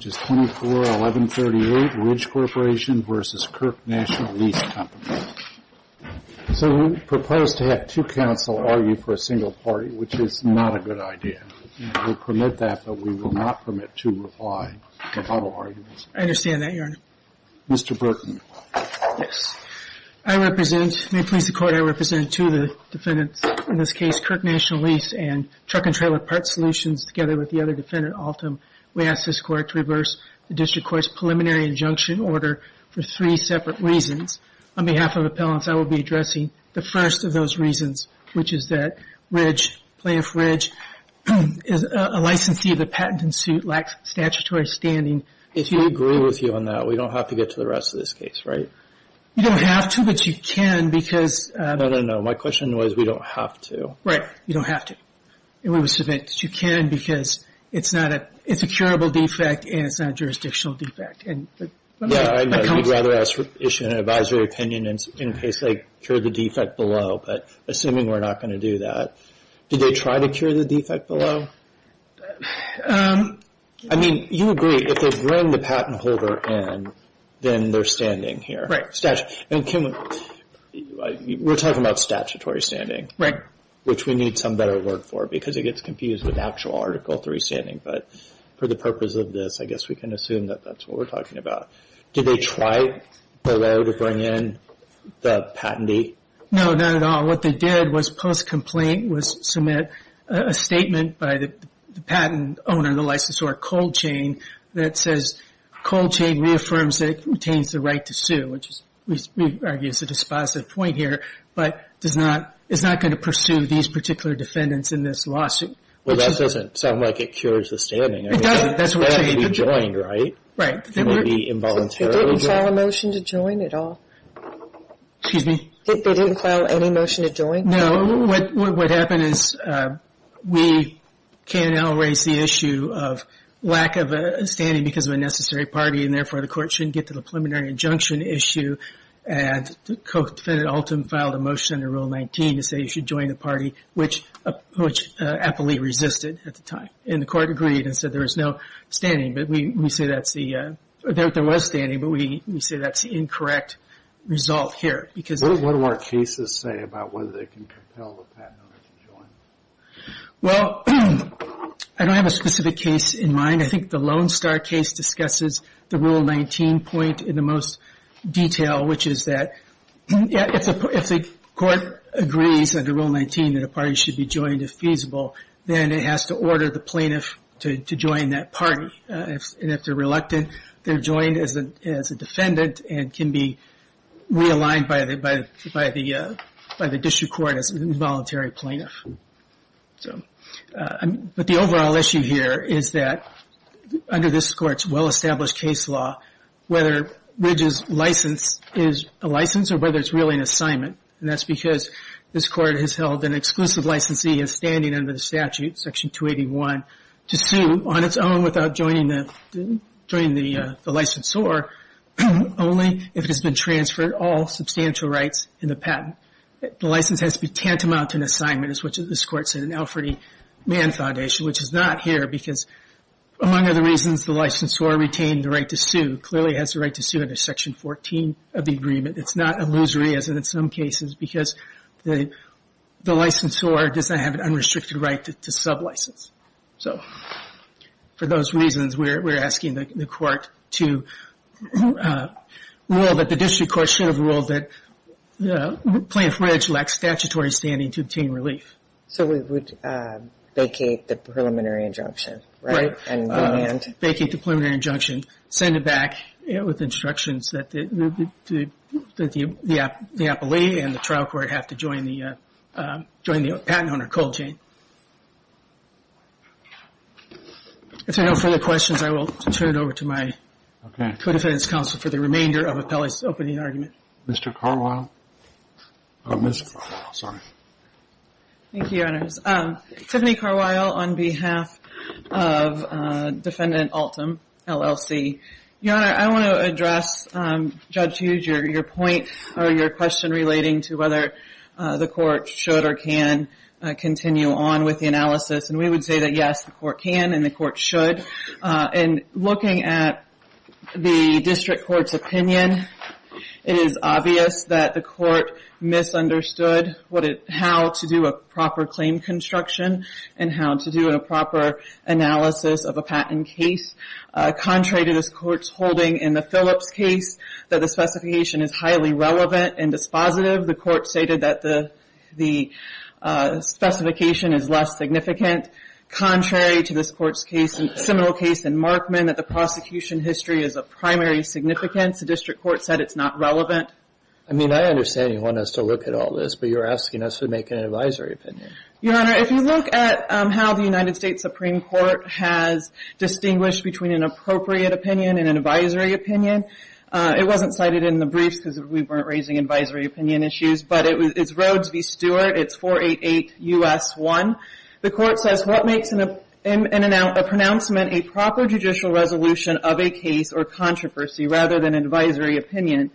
So we propose to have two counsel argue for a single party, which is not a good idea. We'll permit that, but we will not permit two reply to bottle arguments. I understand that, Your Honor. Mr. Burton. Yes. I represent, may it please the Court, I represent two of the defendants, in this case, Kirk National Lease and Truck and Trailer Parts Solutions, together with the other defendant, Altum. We ask this Court to reverse the District Court's preliminary injunction order for three separate reasons. On behalf of the appellants, I will be addressing the first of those reasons, which is that Ridge, Plaintiff Ridge, is a licensee of the patent in suit, lacks statutory standing. If you agree with you on that, we don't have to get to the rest of this case, right? You don't have to, but you can because… No, no, no. My question was, we don't have to. Right. You don't have to. We would submit that you can because it's a curable defect and it's not a jurisdictional defect. Yeah, I know. We'd rather issue an advisory opinion in case they cure the defect below, but assuming we're not going to do that, did they try to cure the defect below? I mean, you agree, if they bring the patent holder in, then they're standing here. Right. And Kim, we're talking about statutory standing. Right. Which we need some better work for because it gets confused with actual Article III standing, but for the purpose of this, I guess we can assume that that's what we're talking about. Did they try below to bring in the patentee? No, not at all. What they did was post-complaint was submit a statement by the patent owner, the licensor, Cold Chain, that says, Cold Chain reaffirms that it retains the right to sue, which we argue is a dispositive point here, but it's not going to pursue these particular defendants in this lawsuit. Well, that doesn't sound like it cures the standing. It doesn't. That's what you need. That has to be joined, right? Right. It can't be involuntarily joined. They didn't file a motion to join at all? Excuse me? They didn't file any motion to join? No. What happened is we, KNL, raised the issue of lack of a standing because of a necessary party and therefore the court shouldn't get to the preliminary injunction issue and the co-defendant, Alton, filed a motion under Rule 19 to say you should join the party, which Appley resisted at the time. And the court agreed and said there was no standing, but we say that's the, there was standing, but we say that's the incorrect result here. What do our cases say about whether they can compel the patent owner to join? Well, I don't have a specific case in mind. I think the Lone Star case discusses the Rule 19 point in the most detail, which is that if the court agrees under Rule 19 that a party should be joined if feasible, then it has to order the plaintiff to join that party. And if they're reluctant, they're joined as a defendant and can be realigned by the district court as an involuntary plaintiff. But the overall issue here is that under this court's well-established case law, whether Ridge's license is a license or whether it's really an assignment, and that's because this court has held an exclusive licensee as standing under the statute, Section 281, to sue on its own without joining the licensor, only if it has been transferred all substantial rights in the patent. The license has to be tantamount to an assignment, as this court said in the Alfred E. Mann Foundation, which is not here, because among other reasons, the licensor retained the right to sue, clearly has the right to sue under Section 14 of the agreement. It's not illusory, as in some cases, because the licensor does not have an unrestricted right to sub-license. So for those reasons, we're asking the court to rule that the district court should have ruled that Plaintiff Ridge lacks statutory standing to obtain relief. So we would vacate the preliminary injunction, right? Right. And demand? Vacate the preliminary injunction, send it back with instructions that the appellee and the trial court have to join the patent owner cold chain. If there are no further questions, I will turn it over to my co-defendant's counsel for the remainder of Appellee's opening argument. Mr. Carwile. Ms. Carwile, sorry. Thank you, Your Honors. Tiffany Carwile on behalf of Defendant Altum, LLC. Your Honor, I want to address Judge Hughes, your point, or your question relating to whether the court should or can continue on with the analysis. And we would say that, yes, the court can and the court should. In looking at the district court's opinion, it is obvious that the court misunderstood how to do a proper claim construction and how to do a proper analysis of a patent case. Contrary to this court's holding in the Phillips case, that the specification is highly relevant and dispositive, the court stated that the specification is less significant. Contrary to this court's case, a similar case in Markman, that the prosecution history is of primary significance. The district court said it's not relevant. I mean, I understand you want us to look at all this, but you're asking us to make an advisory opinion. Your Honor, if you look at how the United States Supreme Court has distinguished between an appropriate opinion and an advisory opinion, it wasn't cited in the briefs because we weren't raising advisory opinion issues, but it's Rhodes v. Stewart. It's 488 U.S. 1. The court says, what makes a pronouncement a proper judicial resolution of a case or controversy rather than advisory opinion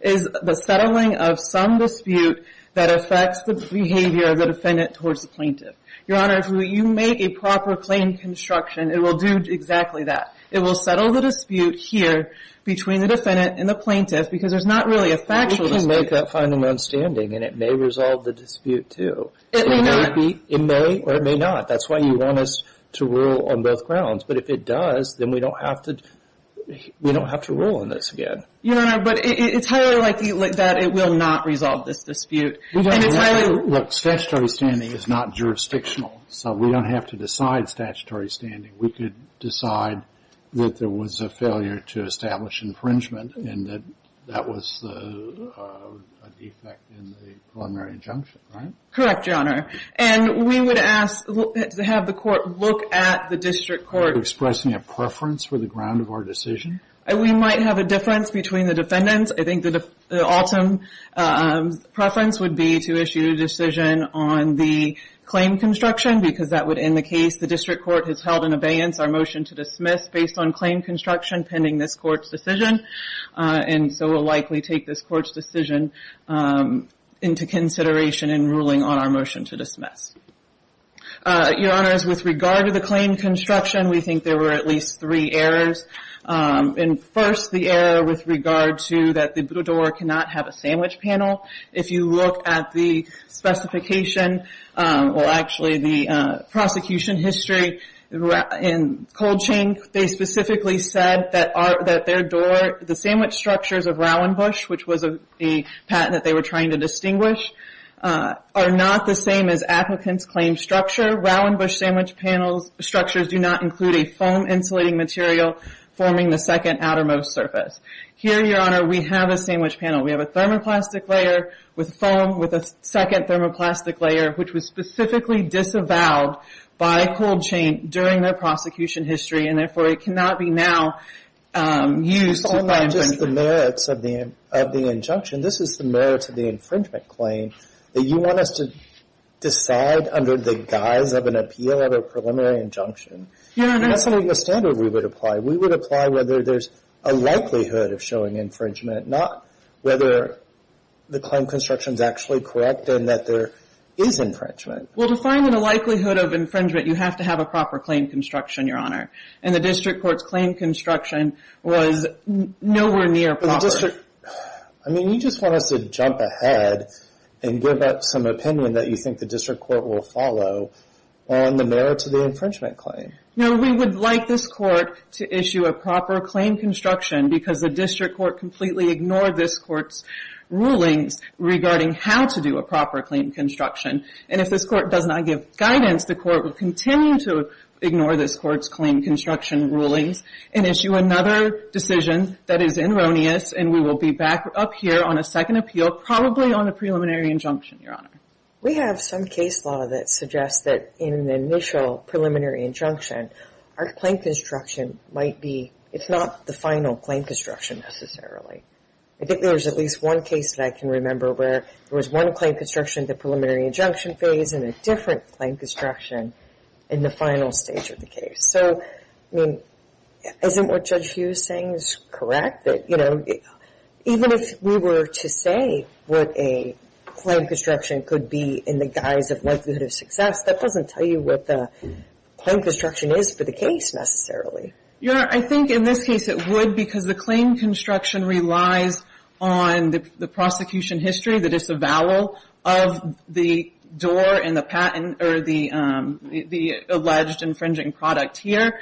is the settling of some dispute that affects the behavior of the defendant towards the plaintiff. Your Honor, if you make a proper claim construction, it will do exactly that. It will settle the dispute here between the defendant and the plaintiff because there's not really a factual dispute. But if you make that final understanding, and it may resolve the dispute, too. It may not. It may or it may not. That's why you want us to rule on both grounds. But if it does, then we don't have to rule on this again. Your Honor, but it's highly likely that it will not resolve this dispute. Look, statutory standing is not jurisdictional, so we don't have to decide statutory standing. We could decide that there was a failure to establish infringement and that that was a defect in the preliminary injunction, right? Correct, Your Honor. And we would ask to have the court look at the district court. Are you expressing a preference for the ground of our decision? We might have a difference between the defendants. I think the ultimate preference would be to issue a decision on the claim construction because that would end the case. The district court has held in abeyance our motion to dismiss based on claim construction pending this court's decision. And so we'll likely take this court's decision into consideration in ruling on our motion to dismiss. Your Honor, with regard to the claim construction, we think there were at least three errors. And first, the error with regard to that the door cannot have a sandwich panel. If you look at the specification, well, actually the prosecution history in Colchink, they specifically said that their door, the sandwich structures of Rowan Bush, which was a patent that they were trying to distinguish, are not the same as applicants' claim structure. Rowan Bush sandwich panel structures do not include a foam insulating material forming the second outermost surface. Here, Your Honor, we have a sandwich panel. We have a thermoplastic layer with foam with a second thermoplastic layer, which was specifically disavowed by Colchink during their prosecution history and, therefore, it cannot be now used to find infringement. Just the merits of the injunction. This is the merits of the infringement claim that you want us to decide under the guise of an appeal of a preliminary injunction. That's not even a standard we would apply. We would apply whether there's a likelihood of showing infringement, not whether the claim construction is actually correct and that there is infringement. Well, to find a likelihood of infringement, you have to have a proper claim construction, Your Honor. And the district court's claim construction was nowhere near proper. But the district, I mean, you just want us to jump ahead and give up some opinion that you think the district court will follow on the merits of the infringement claim. No, we would like this court to issue a proper claim construction because the district court completely ignored this court's rulings regarding how to do a proper claim construction. And if this court does not give guidance, the court will continue to ignore this court's claim construction rulings and issue another decision that is erroneous, and we will be back up here on a second appeal, probably on a preliminary injunction, Your Honor. We have some case law that suggests that in an initial preliminary injunction, our claim construction might be, it's not the final claim construction necessarily. I think there's at least one case that I can remember where there was one claim construction in the preliminary injunction phase and a different claim construction in the final stage of the case. So, I mean, isn't what Judge Hughes is saying correct? That, you know, even if we were to say what a claim construction could be in the guise of likelihood of success, that doesn't tell you what the claim construction is for the case necessarily. Your Honor, I think in this case it would because the claim construction relies on the prosecution history, the disavowal of the door and the patent, or the alleged infringing product here.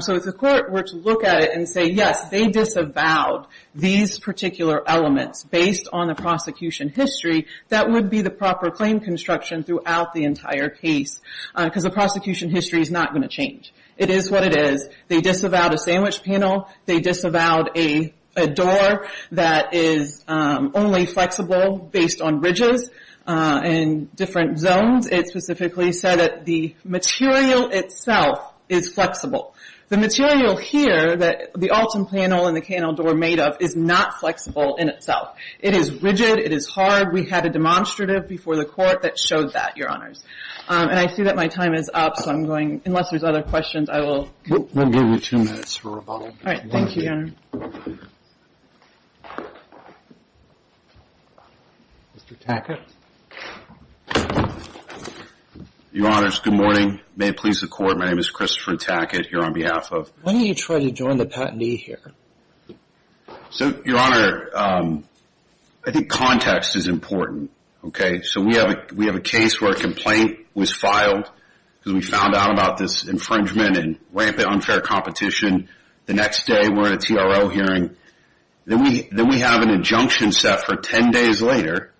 So if the court were to look at it and say, yes, they disavowed these particular elements based on the prosecution history, that would be the proper claim construction throughout the entire case because the prosecution history is not going to change. It is what it is. They disavowed a sandwich panel. They disavowed a door that is only flexible based on bridges and different zones. It specifically said that the material itself is flexible. The material here that the Alton panel and the K&L door are made of is not flexible in itself. It is rigid. It is hard. We had a demonstrative before the court that showed that, Your Honors. And I see that my time is up, so I'm going, unless there's other questions, I will... All right. Thank you, Your Honor. Mr. Tackett. Your Honors, good morning. May it please the Court, my name is Christopher Tackett here on behalf of... Why don't you try to join the patentee here? So, Your Honor, I think context is important. So we have a case where a complaint was filed because we found out about this infringement and rampant unfair competition. And the next day we're in a TRO hearing. Then we have an injunction set for 10 days later.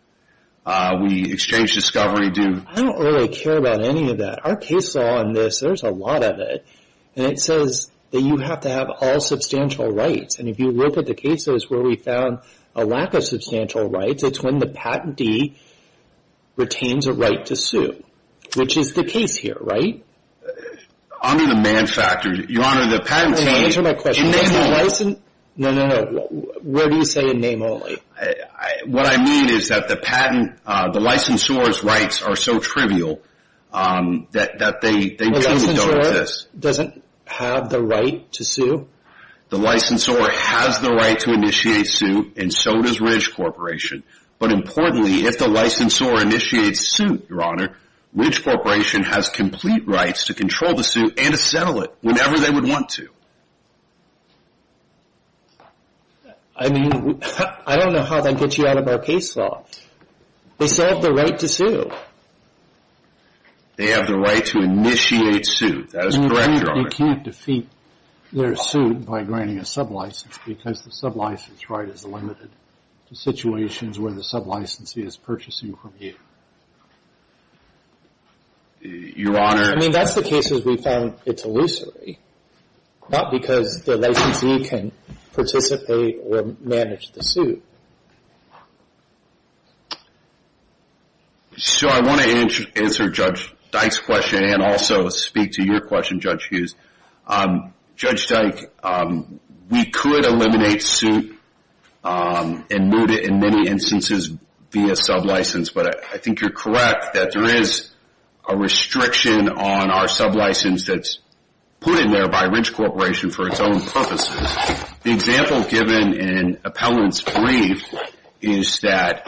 We exchange discovery due... I don't really care about any of that. Our case law on this, there's a lot of it. And it says that you have to have all substantial rights. And if you look at the cases where we found a lack of substantial rights, it's when the patentee retains a right to sue, which is the case here, right? Honor the man factor. Your Honor, the patentee... Answer my question. No, no, no. Where do you say in name only? What I mean is that the patent, the licensor's rights are so trivial that they... The licensor doesn't have the right to sue? The licensor has the right to initiate suit and so does Ridge Corporation. But importantly, if the licensor initiates suit, Your Honor, Ridge Corporation has complete rights to control the suit and to settle it whenever they would want to. I mean, I don't know how that gets you out of our case law. They still have the right to sue. They have the right to initiate suit. That is correct, Your Honor. You can't defeat their suit by granting a sublicense because the sublicense right is limited to situations where the sublicensee is purchasing from you. Your Honor... I mean, that's the case as we found it's illusory, not because the licensee can participate or manage the suit. So I want to answer Judge Dyke's question and also speak to your question, Judge Hughes. Judge Dyke, we could eliminate suit and move it in many instances via sublicense, but I think you're correct that there is a restriction on our sublicense that's put in there by Ridge Corporation for its own purposes. The example given in Appellant's brief is that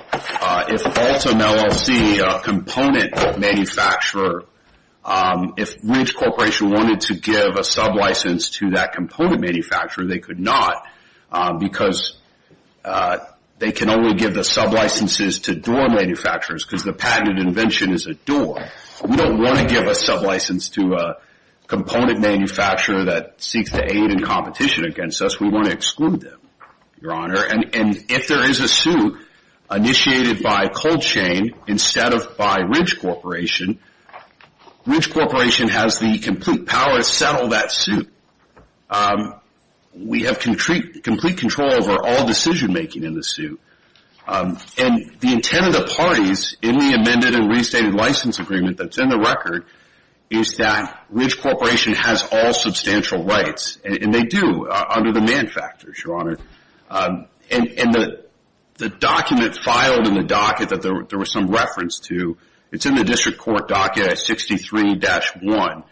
if Ultim LLC, a component manufacturer, if Ridge Corporation wanted to give a sublicense to that component manufacturer, they could not because they can only give the sublicenses to door manufacturers because the patented invention is a door. We don't want to give a sublicense to a component manufacturer that seeks to aid in competition against us. We want to exclude them, Your Honor. And if there is a suit initiated by Cold Chain instead of by Ridge Corporation, Ridge Corporation has the complete power to settle that suit. We have complete control over all decision-making in the suit. And the intent of the parties in the amended and restated license agreement that's in the record is that Ridge Corporation has all substantial rights, and they do under the manufacturers, Your Honor. And the document filed in the docket that there was some reference to, it's in the district court docket at 63-1.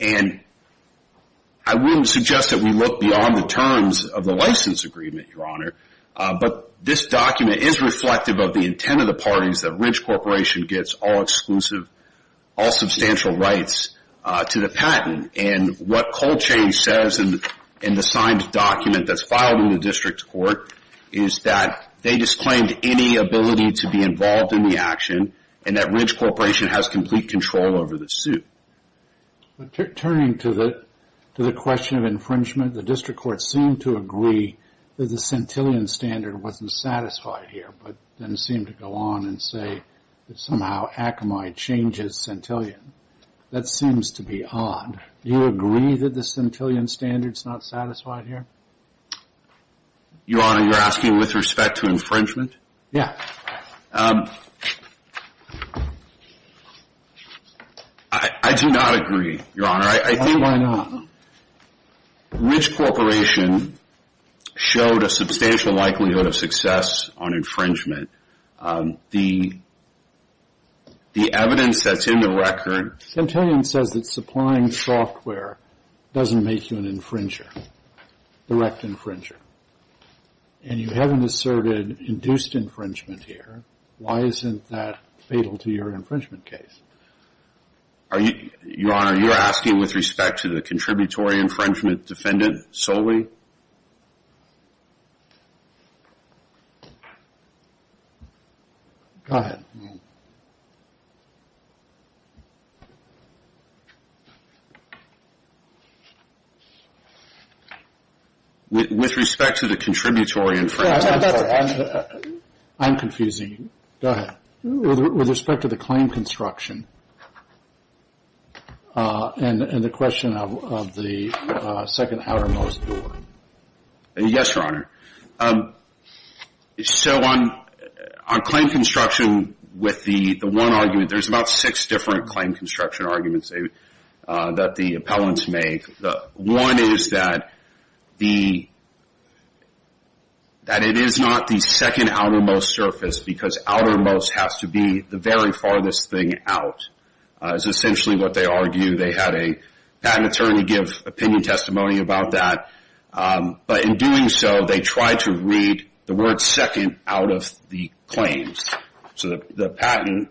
And I wouldn't suggest that we look beyond the terms of the license agreement, Your Honor, but this document is reflective of the intent of the parties that Ridge Corporation gets all exclusive, all substantial rights to the patent. And what Cold Chain says in the signed document that's filed in the district court is that they disclaimed any ability to be involved in the action and that Ridge Corporation has complete control over the suit. Turning to the question of infringement, the district court seemed to agree that the centillion standard wasn't satisfied here, but then seemed to go on and say that somehow Akamai changes centillion. That seems to be odd. Do you agree that the centillion standard's not satisfied here? Your Honor, you're asking with respect to infringement? Yeah. I do not agree, Your Honor. Why not? Ridge Corporation showed a substantial likelihood of success on infringement. The evidence that's in the record... Centillion says that supplying software doesn't make you an infringer, direct infringer. And you haven't asserted induced infringement here. Why isn't that fatal to your infringement case? Your Honor, you're asking with respect to the contributory infringement defendant solely? Go ahead. With respect to the contributory infringement... I'm confusing. Go ahead. With respect to the claim construction and the question of the second outermost door. Yes, Your Honor. So on claim construction with the one argument, there's about six different claim construction arguments that the appellants make. One is that it is not the second outermost surface because outermost has to be the very farthest thing out. It's essentially what they argue. They had a patent attorney give opinion testimony about that. But in doing so, they tried to read the word second out of the claims. So the patent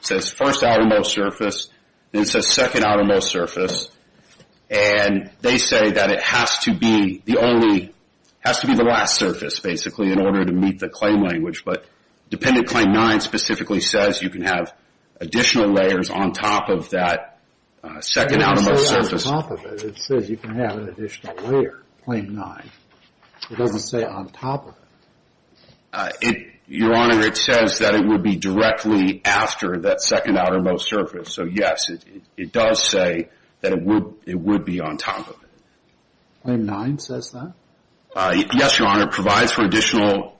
says first outermost surface. Then it says second outermost surface. And they say that it has to be the last surface, basically, in order to meet the claim language. But dependent claim nine specifically says you can have additional layers on top of that second outermost surface. It doesn't say on top of it. It says you can have an additional layer, claim nine. It doesn't say on top of it. Your Honor, it says that it would be directly after that second outermost surface. So, yes, it does say that it would be on top of it. Claim nine says that? Yes, Your Honor. It provides for additional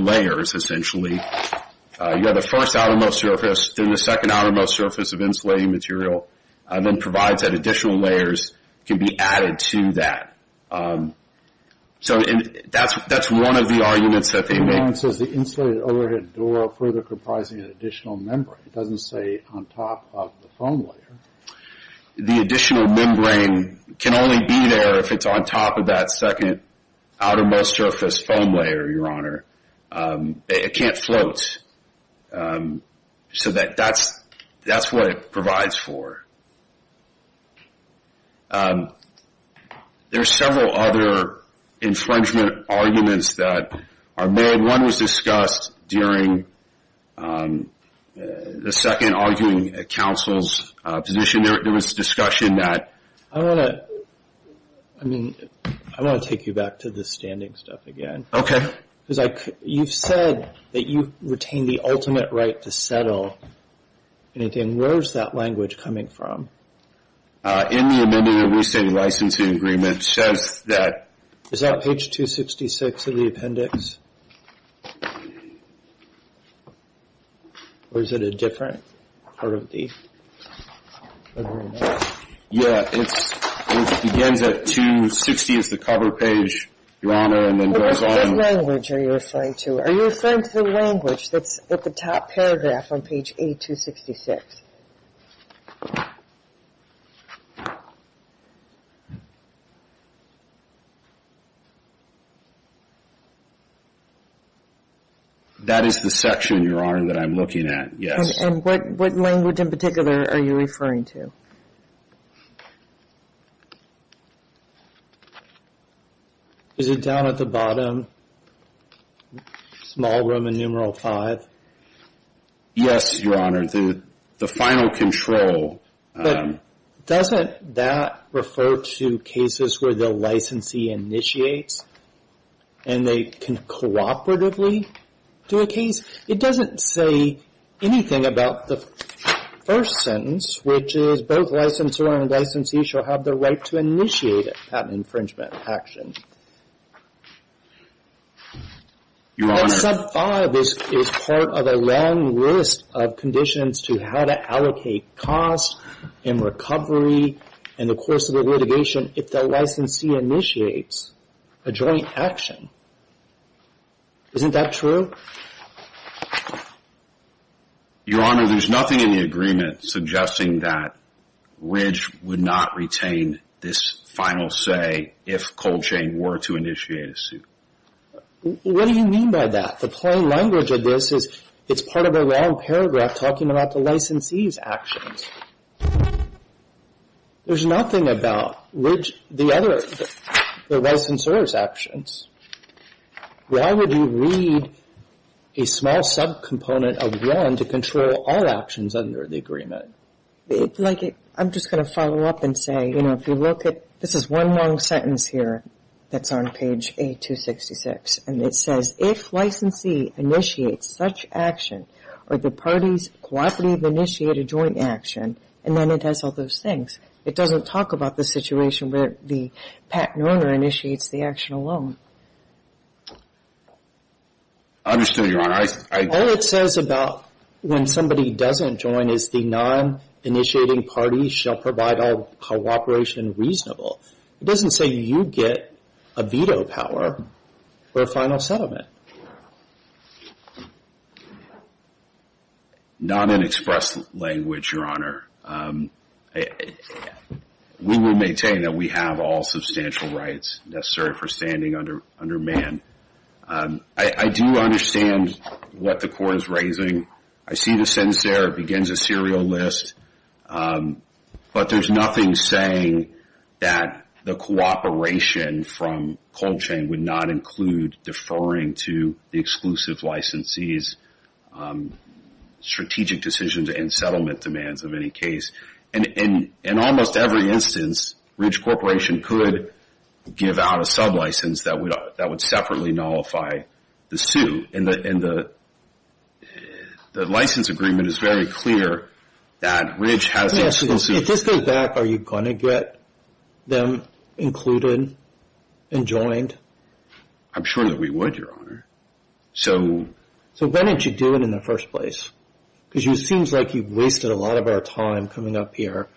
layers, essentially. You have the first outermost surface, then the second outermost surface of insulating material, and then provides that additional layers can be added to that. So that's one of the arguments that they make. Claim nine says the insulated overhead door further comprising an additional membrane. It doesn't say on top of the foam layer. The additional membrane can only be there if it's on top of that second outermost surface foam layer, Your Honor. It can't float. So that's what it provides for. There are several other infringement arguments that are made. One was discussed during the second arguing counsel's position. There was discussion that- I want to take you back to the standing stuff again. Okay. Because you've said that you retain the ultimate right to settle. Anything? Where is that language coming from? In the amending of the restating licensing agreement, it says that- Is that page 266 of the appendix? Or is it a different part of the agreement? Yeah, it begins at 260. It's the cover page, Your Honor, and then goes on- What language are you referring to? Are you referring to the language that's at the top paragraph on page 8266? That is the section, Your Honor, that I'm looking at, yes. And what language in particular are you referring to? Is it down at the bottom, small room and numeral five? Yes, Your Honor. The final control- But doesn't that refer to cases where the licensee initiates and they can cooperatively do a case? It doesn't say anything about the first sentence, which is, both licensor and licensee shall have the right to initiate a patent infringement action. Your Honor- That sub five is part of a long list of conditions to how to allocate costs and recovery in the course of a litigation if the licensee initiates a joint action. Isn't that true? Your Honor, there's nothing in the agreement suggesting that Ridge would not retain this final say if Colchain were to initiate a suit. What do you mean by that? The plain language of this is it's part of a long paragraph talking about the licensee's actions. There's nothing about the licensor's actions. Why would you read a small subcomponent of one to control all actions under the agreement? I'm just going to follow up and say, you know, if you look at- this is one long sentence here that's on page 8266, and it says, if licensee initiates such action or the parties cooperatively initiate a joint action, and then it has all those things. It doesn't talk about the situation where the patent owner initiates the action alone. I understand, Your Honor. All it says about when somebody doesn't join is the non-initiating parties shall provide all cooperation reasonable. It doesn't say you get a veto power for a final settlement. Not in express language, Your Honor. We will maintain that we have all substantial rights necessary for standing under man. I do understand what the court is raising. I see the sentence there. It begins a serial list. But there's nothing saying that the cooperation from cold chain would not include deferring to the exclusive licensee's strategic decisions and settlement demands of any case. In almost every instance, Ridge Corporation could give out a sublicense that would separately nullify the suit. And the license agreement is very clear that Ridge has exclusive. If this goes back, are you going to get them included and joined? I'm sure that we would, Your Honor. So when did you do it in the first place? Because it seems like you've wasted a lot of our time coming up here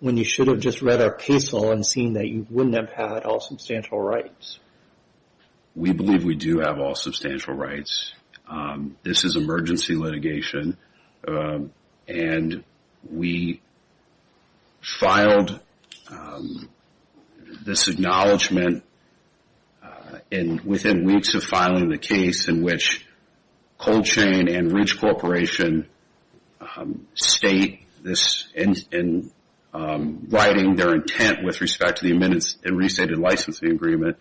when you should have just read our case law and seen that you wouldn't have had all substantial rights. We believe we do have all substantial rights. This is emergency litigation, and we filed this acknowledgement within weeks of filing the case in which cold chain and Ridge Corporation state this in writing their intent with respect to the amended and restated licensing agreement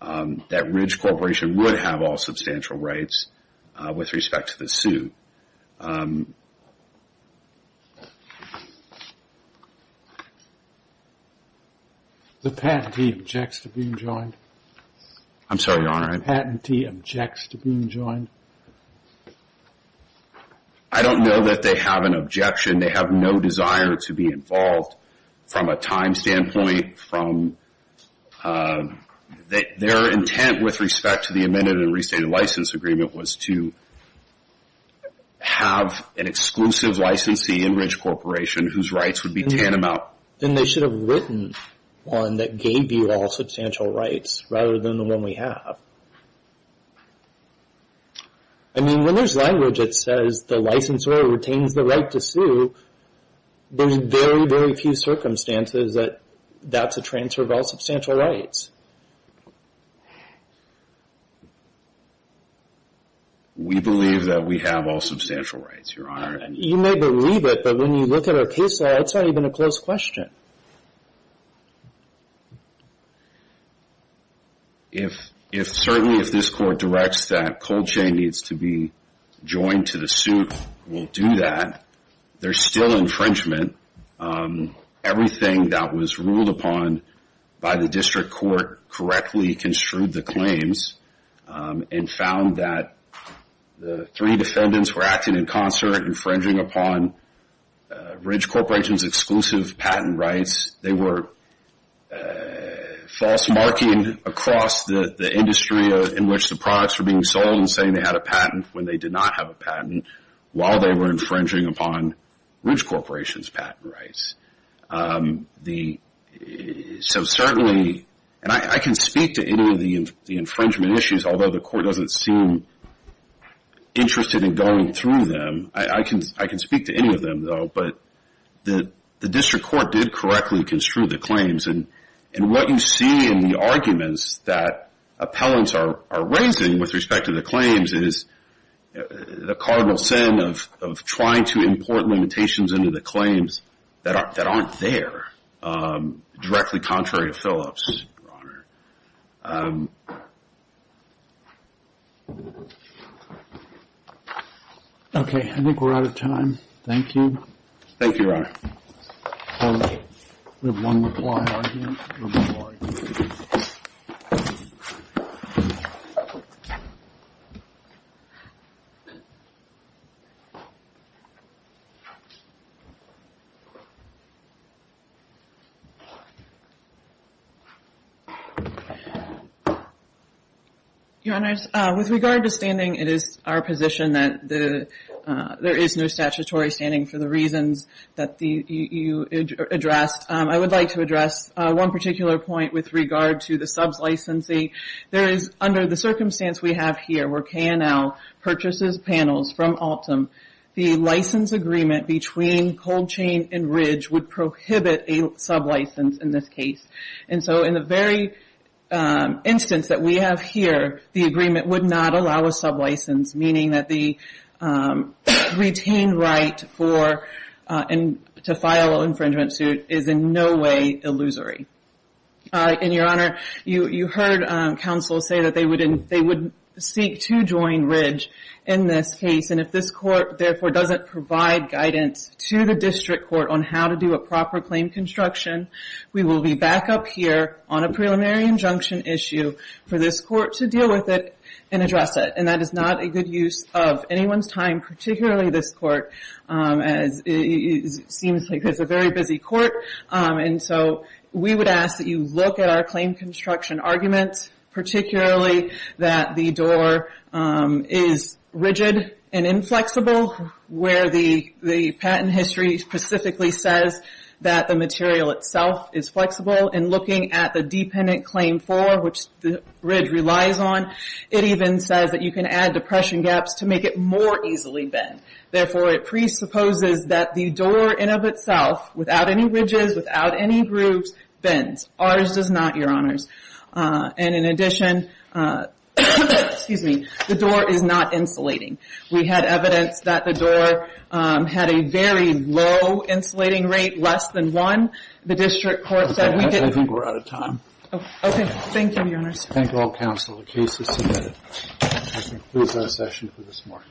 that Ridge Corporation would have all substantial rights with respect to the suit. The patentee objects to being joined? I'm sorry, Your Honor. The patentee objects to being joined? I don't know that they have an objection. They have no desire to be involved from a time standpoint. Their intent with respect to the amended and restated license agreement was to have an exclusive licensee in Ridge Corporation whose rights would be tantamount. Then they should have written one that gave you all substantial rights rather than the one we have. I mean, when there's language that says the licensor retains the right to sue, there's very, very few circumstances that that's a transfer of all substantial rights. We believe that we have all substantial rights, Your Honor. You may believe it, but when you look at our case law, that's not even a close question. If certainly if this court directs that Colchain needs to be joined to the suit, we'll do that. There's still infringement. Everything that was ruled upon by the district court correctly construed the claims and found that the three defendants were acting in concert, infringing upon Ridge Corporation's exclusive patent rights. They were false marking across the industry in which the products were being sold and saying they had a patent when they did not have a patent while they were infringing upon Ridge Corporation's patent rights. I can speak to any of the infringement issues, although the court doesn't seem interested in going through them. I can speak to any of them, though, but the district court did correctly construe the claims. And what you see in the arguments that appellants are raising with respect to the claims is the cardinal sin of trying to import limitations into the claims that aren't there, Okay, I think we're out of time. Thank you. Thank you, Ron. We have one reply argument. Your Honors, with regard to standing, it is our position that there is no statutory standing for the reasons that you addressed. I would like to address one particular point with regard to the subs licensee. There is, under the circumstance we have here where K&L purchases panels from Altum, the license agreement between Cold Chain and Ridge would prohibit a sub license in this case. And so in the very instance that we have here, the agreement would not allow a sub license, meaning that the retained right to file an infringement suit is in no way illusory. And, Your Honor, you heard counsel say that they would seek to join Ridge in this case, and if this court, therefore, doesn't provide guidance to the district court on how to do a proper claim construction, we will be back up here on a preliminary injunction issue for this court to deal with it and address it. And that is not a good use of anyone's time, particularly this court, as it seems like it's a very busy court. And so we would ask that you look at our claim construction arguments, particularly that the door is rigid and inflexible, where the patent history specifically says that the material itself is flexible. And looking at the dependent claim for, which Ridge relies on, it even says that you can add depression gaps to make it more easily bend. Therefore, it presupposes that the door in of itself, without any ridges, without any grooves, bends. Ours does not, Your Honors. And in addition, the door is not insulating. We had evidence that the door had a very low insulating rate, less than one. The district court said we didn't. I think we're out of time. Okay. Thank you, Your Honors. Thank you all, counsel. The case is submitted. This concludes our session for this morning.